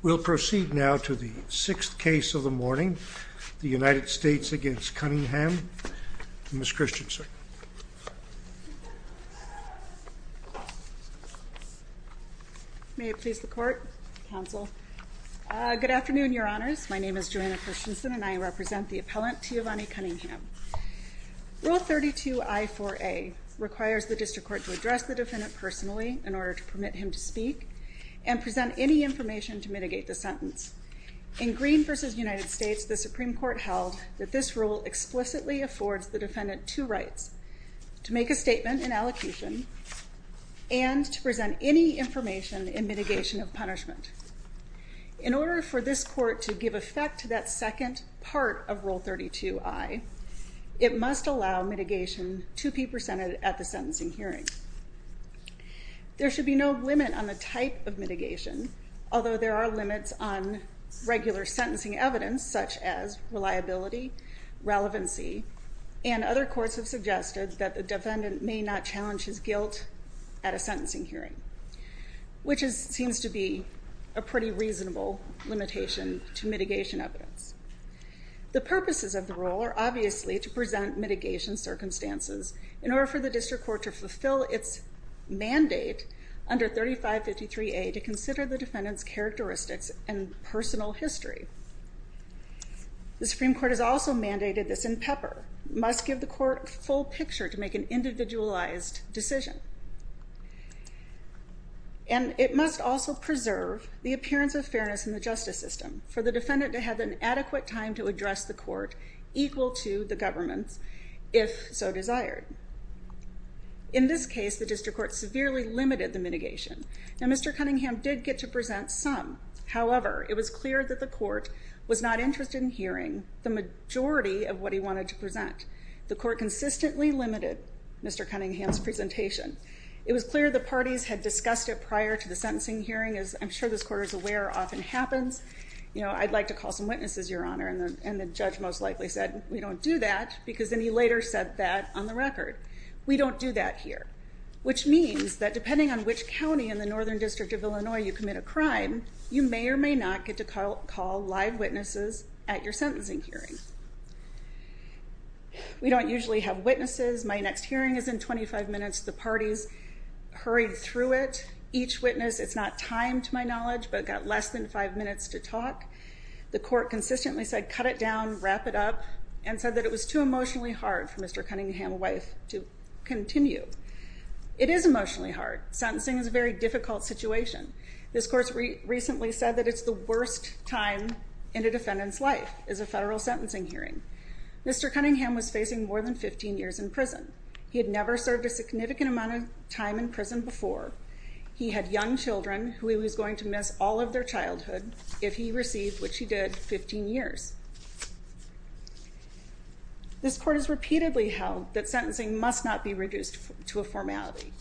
We'll proceed now to the sixth case of the morning, the United States v. Cunningham. Ms. Christensen. May it please the Court, Counsel. Good afternoon, Your Honors. My name is Joanna Christensen, and I represent the appellant, Teovonni Cunningham. Rule 32I4A requires the District Court to address the defendant personally in order to permit him to speak and present any information to mitigate the sentence. In Green v. United States, the Supreme Court held that this rule explicitly affords the defendant two rights, to make a statement in allocation and to present any information in mitigation of punishment. In order for this Court to give effect to that second part of Rule 32I, it must allow mitigation to be presented at the sentencing hearing. There should be no limit on the type of mitigation, although there are limits on regular sentencing evidence such as reliability, relevancy, and other courts have suggested that the defendant may not challenge his guilt at a sentencing hearing, which seems to be a pretty reasonable limitation to mitigation evidence. The purposes of the rule are obviously to present mitigation circumstances in order for the District Court to fulfill its mandate under 3553A to consider the defendant's characteristics and personal history. The Supreme Court has also mandated this in Pepper. It must give the court a full picture to make an individualized decision, and it must also preserve the appearance of fairness in the justice system for the defendant to have an adequate time to address the court, equal to the government, if so desired. In this case, the District Court severely limited the mitigation, and Mr. Cunningham did get to present some. However, it was clear that the court was not interested in hearing the majority of what he wanted to present. The court consistently limited Mr. Cunningham's presentation. It was clear the parties had discussed it prior to the sentencing hearing, as I'm sure this Court is aware often happens. You know, I'd like to call some witnesses, Your Honor, and the judge most likely said we don't do that because then he later said that on the record. We don't do that here, which means that depending on which county in the Northern District of Illinois you commit a crime, you may or may not get to call live witnesses at your sentencing hearing. We don't usually have witnesses. My next hearing is in 25 minutes. The parties hurried through it. Each witness, it's not timed to my knowledge, but got less than five minutes to talk. The court consistently said cut it down, wrap it up, and said that it was too emotionally hard for Mr. Cunningham's wife to continue. It is emotionally hard. Sentencing is a very difficult situation. This Court recently said that it's the worst time in a defendant's life is a federal sentencing hearing. Mr. Cunningham was facing more than 15 years in prison. He had never served a significant amount of time in prison before. He had young children who he was going to miss all of their childhood if he received, which he did, 15 years. This Court has repeatedly held that sentencing must not be reduced to a formality,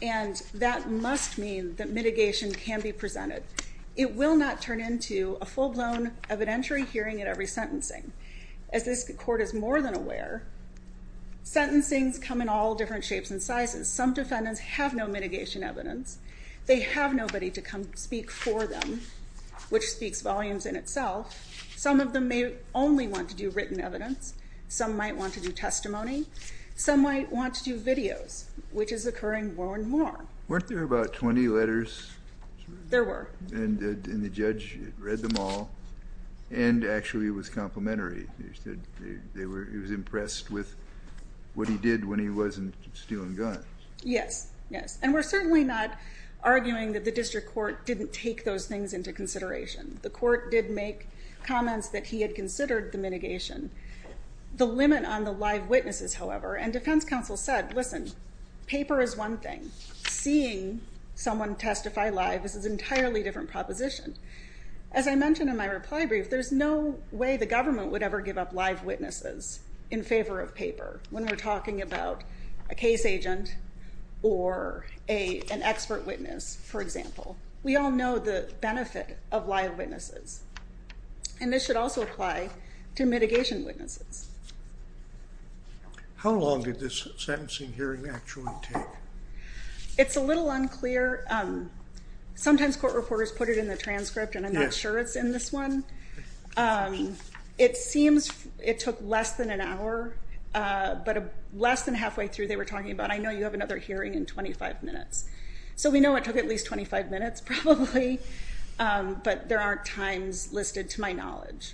and that must mean that mitigation can be presented. It will not turn into a full-blown evidentiary hearing at every sentencing. As this Court is more than aware, sentencings come in all different shapes and sizes. Some defendants have no mitigation evidence. They have nobody to come speak for them, which speaks volumes in itself. Some of them may only want to do written evidence. Some might want to do testimony. Some might want to do videos, which is occurring more and more. Weren't there about 20 letters? There were. And the judge read them all, and actually it was complimentary. He said he was impressed with what he did when he wasn't stealing guns. Yes, yes. And we're certainly not arguing that the district court didn't take those things into consideration. The court did make comments that he had considered the mitigation. The limit on the live witnesses, however, and defense counsel said, listen, paper is one thing. Seeing someone testify live is an entirely different proposition. As I mentioned in my reply brief, there's no way the government would ever give up live witnesses in favor of paper when we're talking about a case agent or an expert witness, for example. We all know the benefit of live witnesses, and this should also apply to mitigation witnesses. How long did this sentencing hearing actually take? It's a little unclear. Sometimes court reporters put it in the transcript, and I'm not sure it's in this one. It seems it took less than an hour, but less than halfway through they were talking about, I know you have another hearing in 25 minutes. So we know it took at least 25 minutes probably, but there aren't times listed to my knowledge.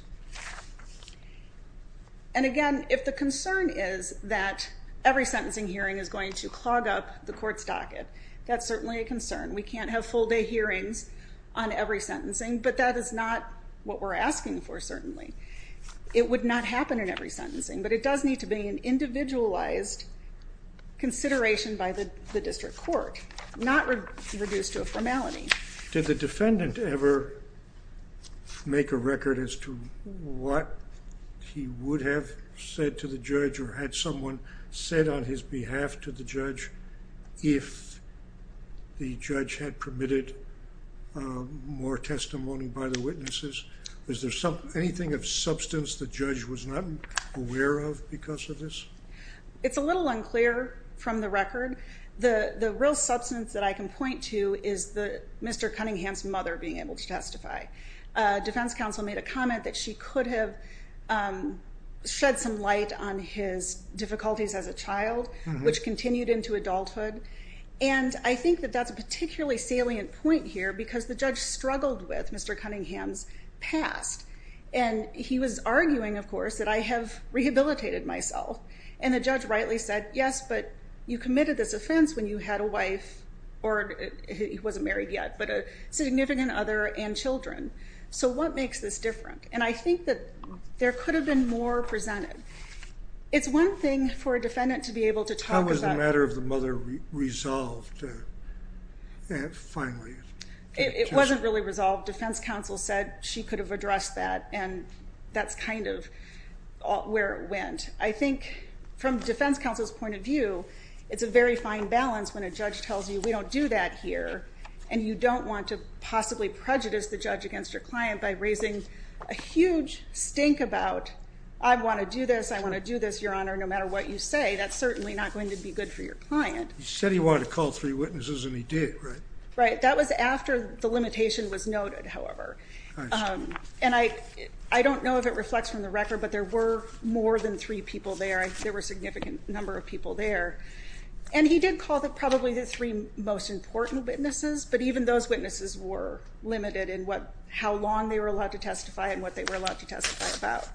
And again, if the concern is that every sentencing hearing is going to clog up the court's docket, that's certainly a concern. We can't have full day hearings on every sentencing, but that is not what we're asking for certainly. It would not happen in every sentencing, but it does need to be an individualized consideration by the district court, not reduced to a formality. Did the defendant ever make a record as to what he would have said to the judge or had someone said on his behalf to the judge if the judge had permitted more testimony by the witnesses? Is there anything of substance the judge was not aware of because of this? It's a little unclear from the record. The real substance that I can point to is Mr. Cunningham's mother being able to testify. Defense counsel made a comment that she could have shed some light on his difficulties as a child, which continued into adulthood. And I think that that's a particularly salient point here because the judge struggled with Mr. Cunningham's past. And he was arguing, of course, that I have rehabilitated myself. And the judge rightly said, yes, but you committed this offense when you had a wife, or he wasn't married yet, but a significant other and children. So what makes this different? And I think that there could have been more presented. It's one thing for a defendant to be able to talk about... How was the matter of the mother resolved finally? It wasn't really resolved. Defense counsel said she could have addressed that, and that's kind of where it went. I think from defense counsel's point of view, it's a very fine balance when a judge tells you we don't do that here, and you don't want to possibly prejudice the judge against your client by raising a huge stink about, I want to do this, I want to do this, Your Honor, no matter what you say. That's certainly not going to be good for your client. He said he wanted to call three witnesses, and he did, right? Right. That was after the limitation was noted, however. And I don't know if it reflects from the record, but there were more than three people there. There were a significant number of people there. And he did call probably the three most important witnesses, but even those witnesses were limited in how long they were allowed to testify and what they were allowed to testify about.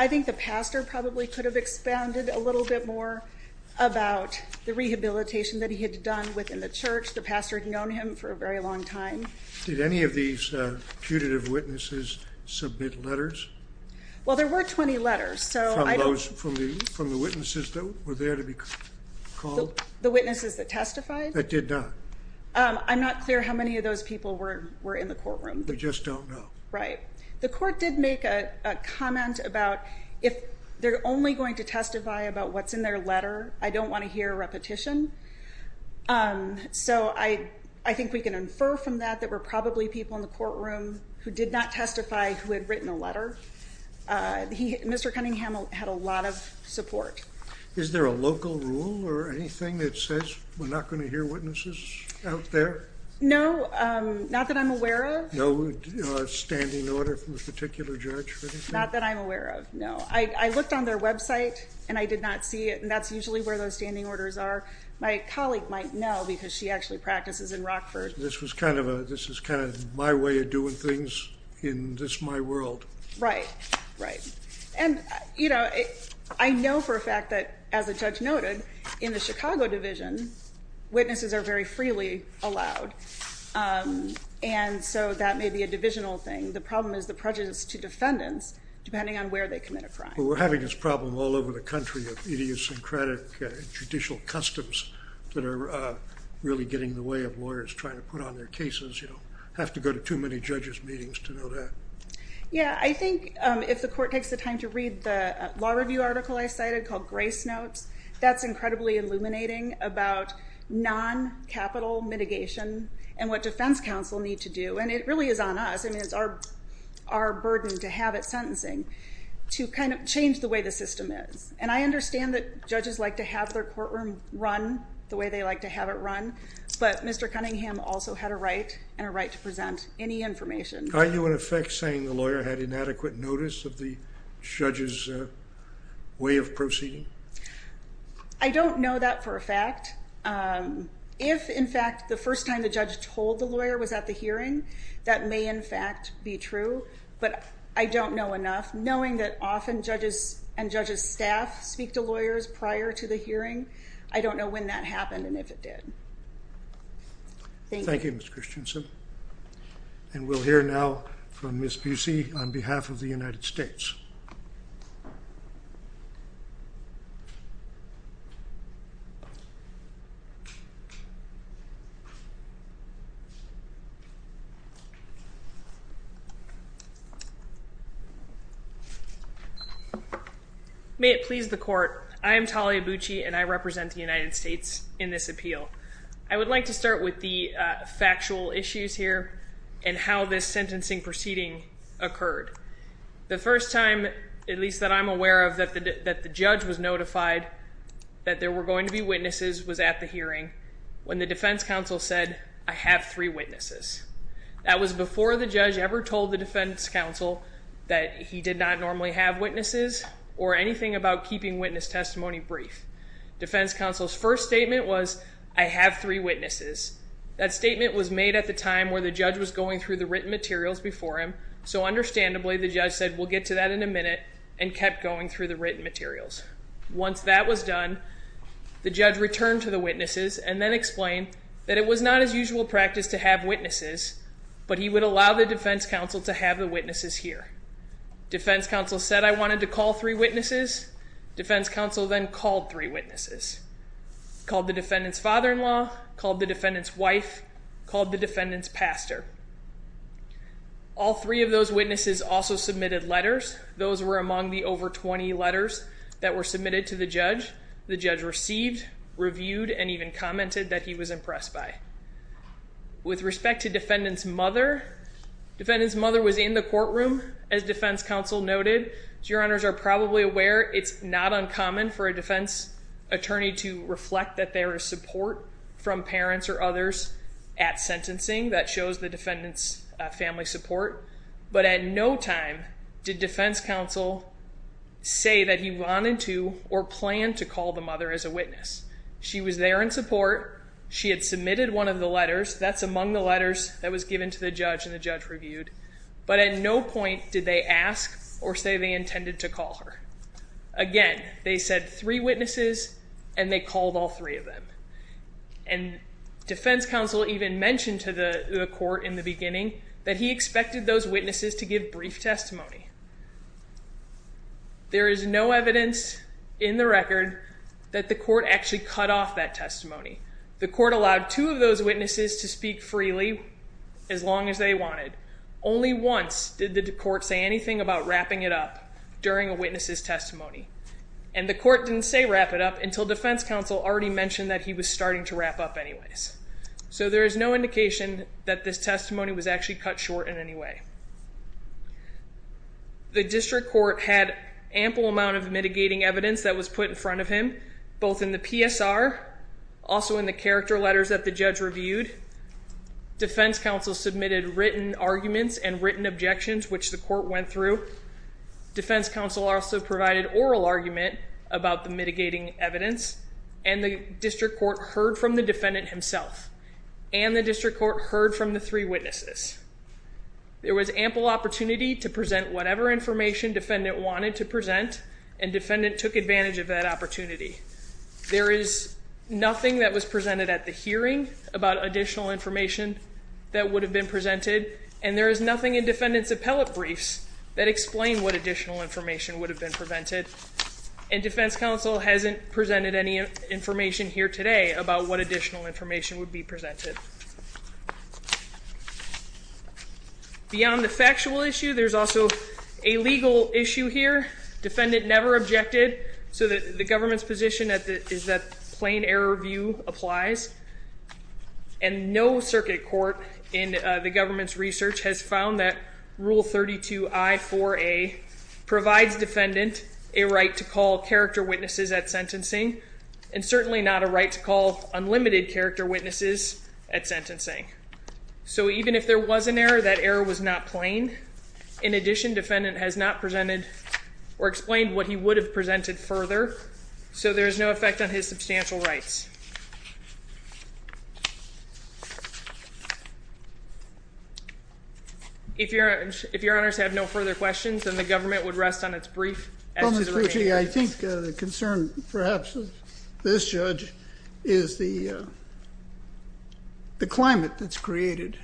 I think the pastor probably could have expanded a little bit more about the rehabilitation that he had done within the church. The pastor had known him for a very long time. Did any of these putative witnesses submit letters? Well, there were 20 letters. From the witnesses that were there to be called? The witnesses that testified? That did not. I'm not clear how many of those people were in the courtroom. We just don't know. Right. The court did make a comment about if they're only going to testify about what's in their letter, I don't want to hear a repetition. So, I think we can infer from that that there were probably people in the courtroom who did not testify who had written a letter. Mr. Cunningham had a lot of support. Is there a local rule or anything that says we're not going to hear witnesses out there? No, not that I'm aware of. No standing order from a particular judge or anything? Not that I'm aware of, no. I looked on their website and I did not see it. And that's usually where those standing orders are. My colleague might know because she actually practices in Rockford. This is kind of my way of doing things in this my world. Right. Right. And, you know, I know for a fact that, as the judge noted, in the Chicago Division, witnesses are very freely allowed. And so that may be a divisional thing. The problem is the prejudice to defendants depending on where they commit a crime. Well, we're having this problem all over the country of idiosyncratic judicial customs that are really getting in the way of lawyers trying to put on their cases. You don't have to go to too many judges' meetings to know that. Yeah, I think if the court takes the time to read the law review article I cited called Grace Notes, that's incredibly illuminating about non-capital mitigation and what defense counsel need to do. And it really is on us. I mean, it's our burden to have at sentencing to kind of change the way the system is. And I understand that judges like to have their courtroom run the way they like to have it run. But Mr. Cunningham also had a right and a right to present any information. Are you, in effect, saying the lawyer had inadequate notice of the judge's way of proceeding? I don't know that for a fact. If, in fact, the first time the judge told the lawyer was at the hearing, that may in fact be true. But I don't know enough. Knowing that often judges and judges' staff speak to lawyers prior to the hearing, I don't know when that happened and if it did. Thank you. Thank you, Ms. Christiansen. And we'll hear now from Ms. Busey on behalf of the United States. May it please the court. I am Talia Busey, and I represent the United States in this appeal. I would like to start with the factual issues here and how this sentencing proceeding occurred. The first time, at least that I'm aware of, that the judge was notified that there were going to be witnesses was at the hearing when the defense counsel said, I have three witnesses. That was before the judge ever told the defense counsel that he did not normally have witnesses or anything about keeping witness testimony brief. Defense counsel's first statement was, I have three witnesses. That statement was made at the time where the judge was going through the written materials before him, so understandably the judge said, we'll get to that in a minute, and kept going through the written materials. Once that was done, the judge returned to the witnesses and then explained that it was not his usual practice to have witnesses, but he would allow the defense counsel to have the witnesses here. Defense counsel said I wanted to call three witnesses. Defense counsel then called three witnesses, called the defendant's father-in-law, called the defendant's wife, called the defendant's pastor. All three of those witnesses also submitted letters. Those were among the over 20 letters that were submitted to the judge. The judge received, reviewed, and even commented that he was impressed by. With respect to defendant's mother, defendant's mother was in the courtroom, as defense counsel noted. As your honors are probably aware, it's not uncommon for a defense attorney to reflect that there is support from parents or others at sentencing. That shows the defendant's family support. But at no time did defense counsel say that he wanted to or planned to call the mother as a witness. She was there in support. She had submitted one of the letters. That's among the letters that was given to the judge and the judge reviewed. But at no point did they ask or say they intended to call her. Again, they said three witnesses, and they called all three of them. And defense counsel even mentioned to the court in the beginning that he expected those witnesses to give brief testimony. There is no evidence in the record that the court actually cut off that testimony. The court allowed two of those witnesses to speak freely as long as they wanted. Only once did the court say anything about wrapping it up during a witness's testimony. And the court didn't say wrap it up until defense counsel already mentioned that he was starting to wrap up anyways. So there is no indication that this testimony was actually cut short in any way. The district court had ample amount of mitigating evidence that was put in front of him, both in the PSR, also in the character letters that the judge reviewed. Defense counsel submitted written arguments and written objections, which the court went through. Defense counsel also provided oral argument about the mitigating evidence, and the district court heard from the defendant himself, and the district court heard from the three witnesses. There was ample opportunity to present whatever information defendant wanted to present, and defendant took advantage of that opportunity. There is nothing that was presented at the hearing about additional information that would have been presented, and there is nothing in defendant's appellate briefs that explain what additional information would have been presented. And defense counsel hasn't presented any information here today about what additional information would be presented. Beyond the factual issue, there's also a legal issue here. Defendant never objected, so the government's position is that plain error view applies. And no circuit court in the government's research has found that Rule 32I-4A provides defendant a right to call character witnesses at sentencing, and certainly not a right to call unlimited character witnesses at sentencing. So even if there was an error, that error was not plain. In addition, defendant has not presented or explained what he would have presented further, so there is no effect on his substantial rights. If your honors have no further questions, then the government would rest on its brief. Well, Ms. Pucci, I think the concern perhaps of this judge is the climate that's created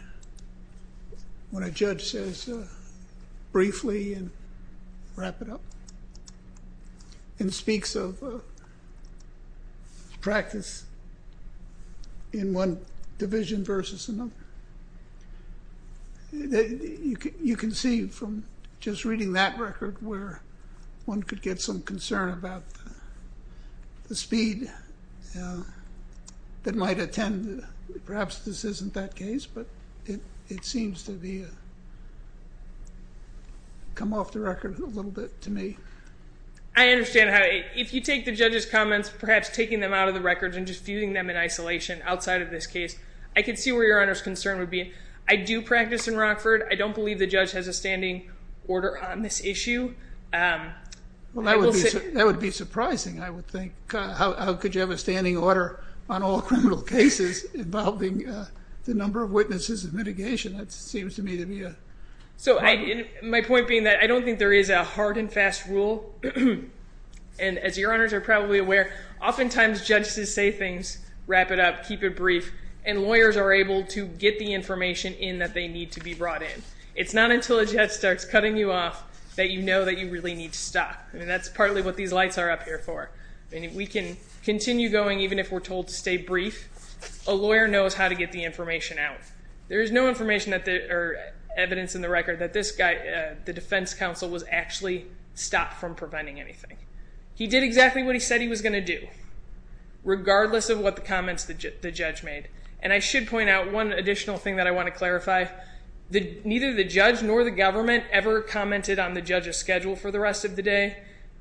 when a judge says briefly and wrap it up, and speaks of practice in one division versus another. You can see from just reading that record where one could get some concern about the speed that might attend. Perhaps this isn't that case, but it seems to come off the record a little bit to me. I understand. If you take the judge's comments, perhaps taking them out of the record and just viewing them in isolation outside of this case, I can see where your honors' concern would be. I do practice in Rockford. I don't believe the judge has a standing order on this issue. Well, that would be surprising, I would think. How could you have a standing order on all criminal cases involving the number of witnesses and mitigation? That seems to me to be a problem. My point being that I don't think there is a hard and fast rule. As your honors are probably aware, oftentimes judges say things, wrap it up, keep it brief, and lawyers are able to get the information in that they need to be brought in. It's not until a judge starts cutting you off that you know that you really need to stop. That's partly what these lights are up here for. We can continue going even if we're told to stay brief. A lawyer knows how to get the information out. There is no evidence in the record that this guy, the defense counsel, was actually stopped from preventing anything. He did exactly what he said he was going to do, regardless of what the comments the judge made. I should point out one additional thing that I want to clarify. Neither the judge nor the government ever commented on the judge's schedule for the rest of the day.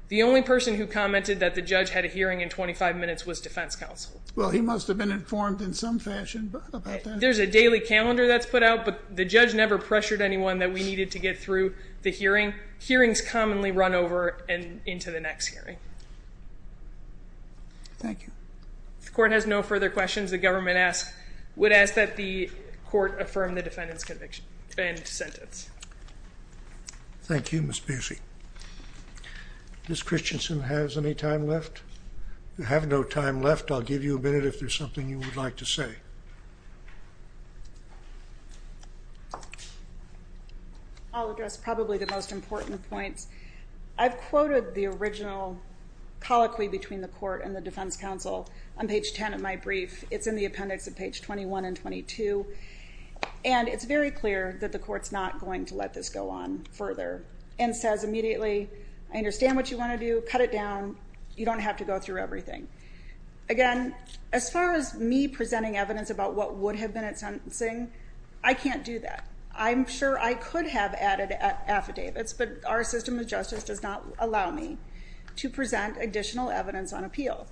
The only person who commented that the judge had a hearing in 25 minutes was defense counsel. Well, he must have been informed in some fashion about that. There's a daily calendar that's put out, but the judge never pressured anyone that we needed to get through the hearing. Hearings commonly run over and into the next hearing. Thank you. If the court has no further questions, the government would ask that the court affirm the defendant's conviction and sentence. Thank you, Ms. Beasley. Ms. Christensen has any time left? If you have no time left, I'll give you a minute if there's something you would like to say. I'll address probably the most important point. I've quoted the original colloquy between the court and the defense counsel on page 10 of my brief. It's in the appendix at page 21 and 22. And it's very clear that the court's not going to let this go on further and says immediately, I understand what you want to do. Cut it down. You don't have to go through everything. Again, as far as me presenting evidence about what would have been at sentencing, I can't do that. I'm sure I could have added affidavits, but our system of justice does not allow me to present additional evidence on appeal.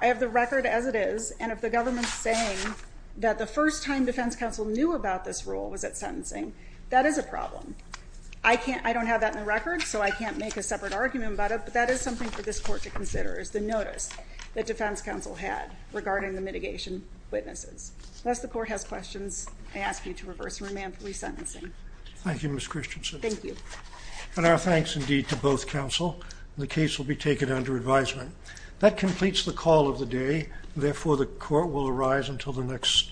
I have the record as it is, and if the government's saying that the first time defense counsel knew about this rule was at sentencing, that is a problem. I don't have that in the record, so I can't make a separate argument about it, but that is something for this court to consider, is the notice that defense counsel had regarding the mitigation witnesses. Unless the court has questions, I ask you to reverse and remand for resentencing. Thank you, Ms. Christensen. Thank you. And our thanks indeed to both counsel. The case will be taken under advisement. That completes the call of the day. Therefore, the court will arise until the next.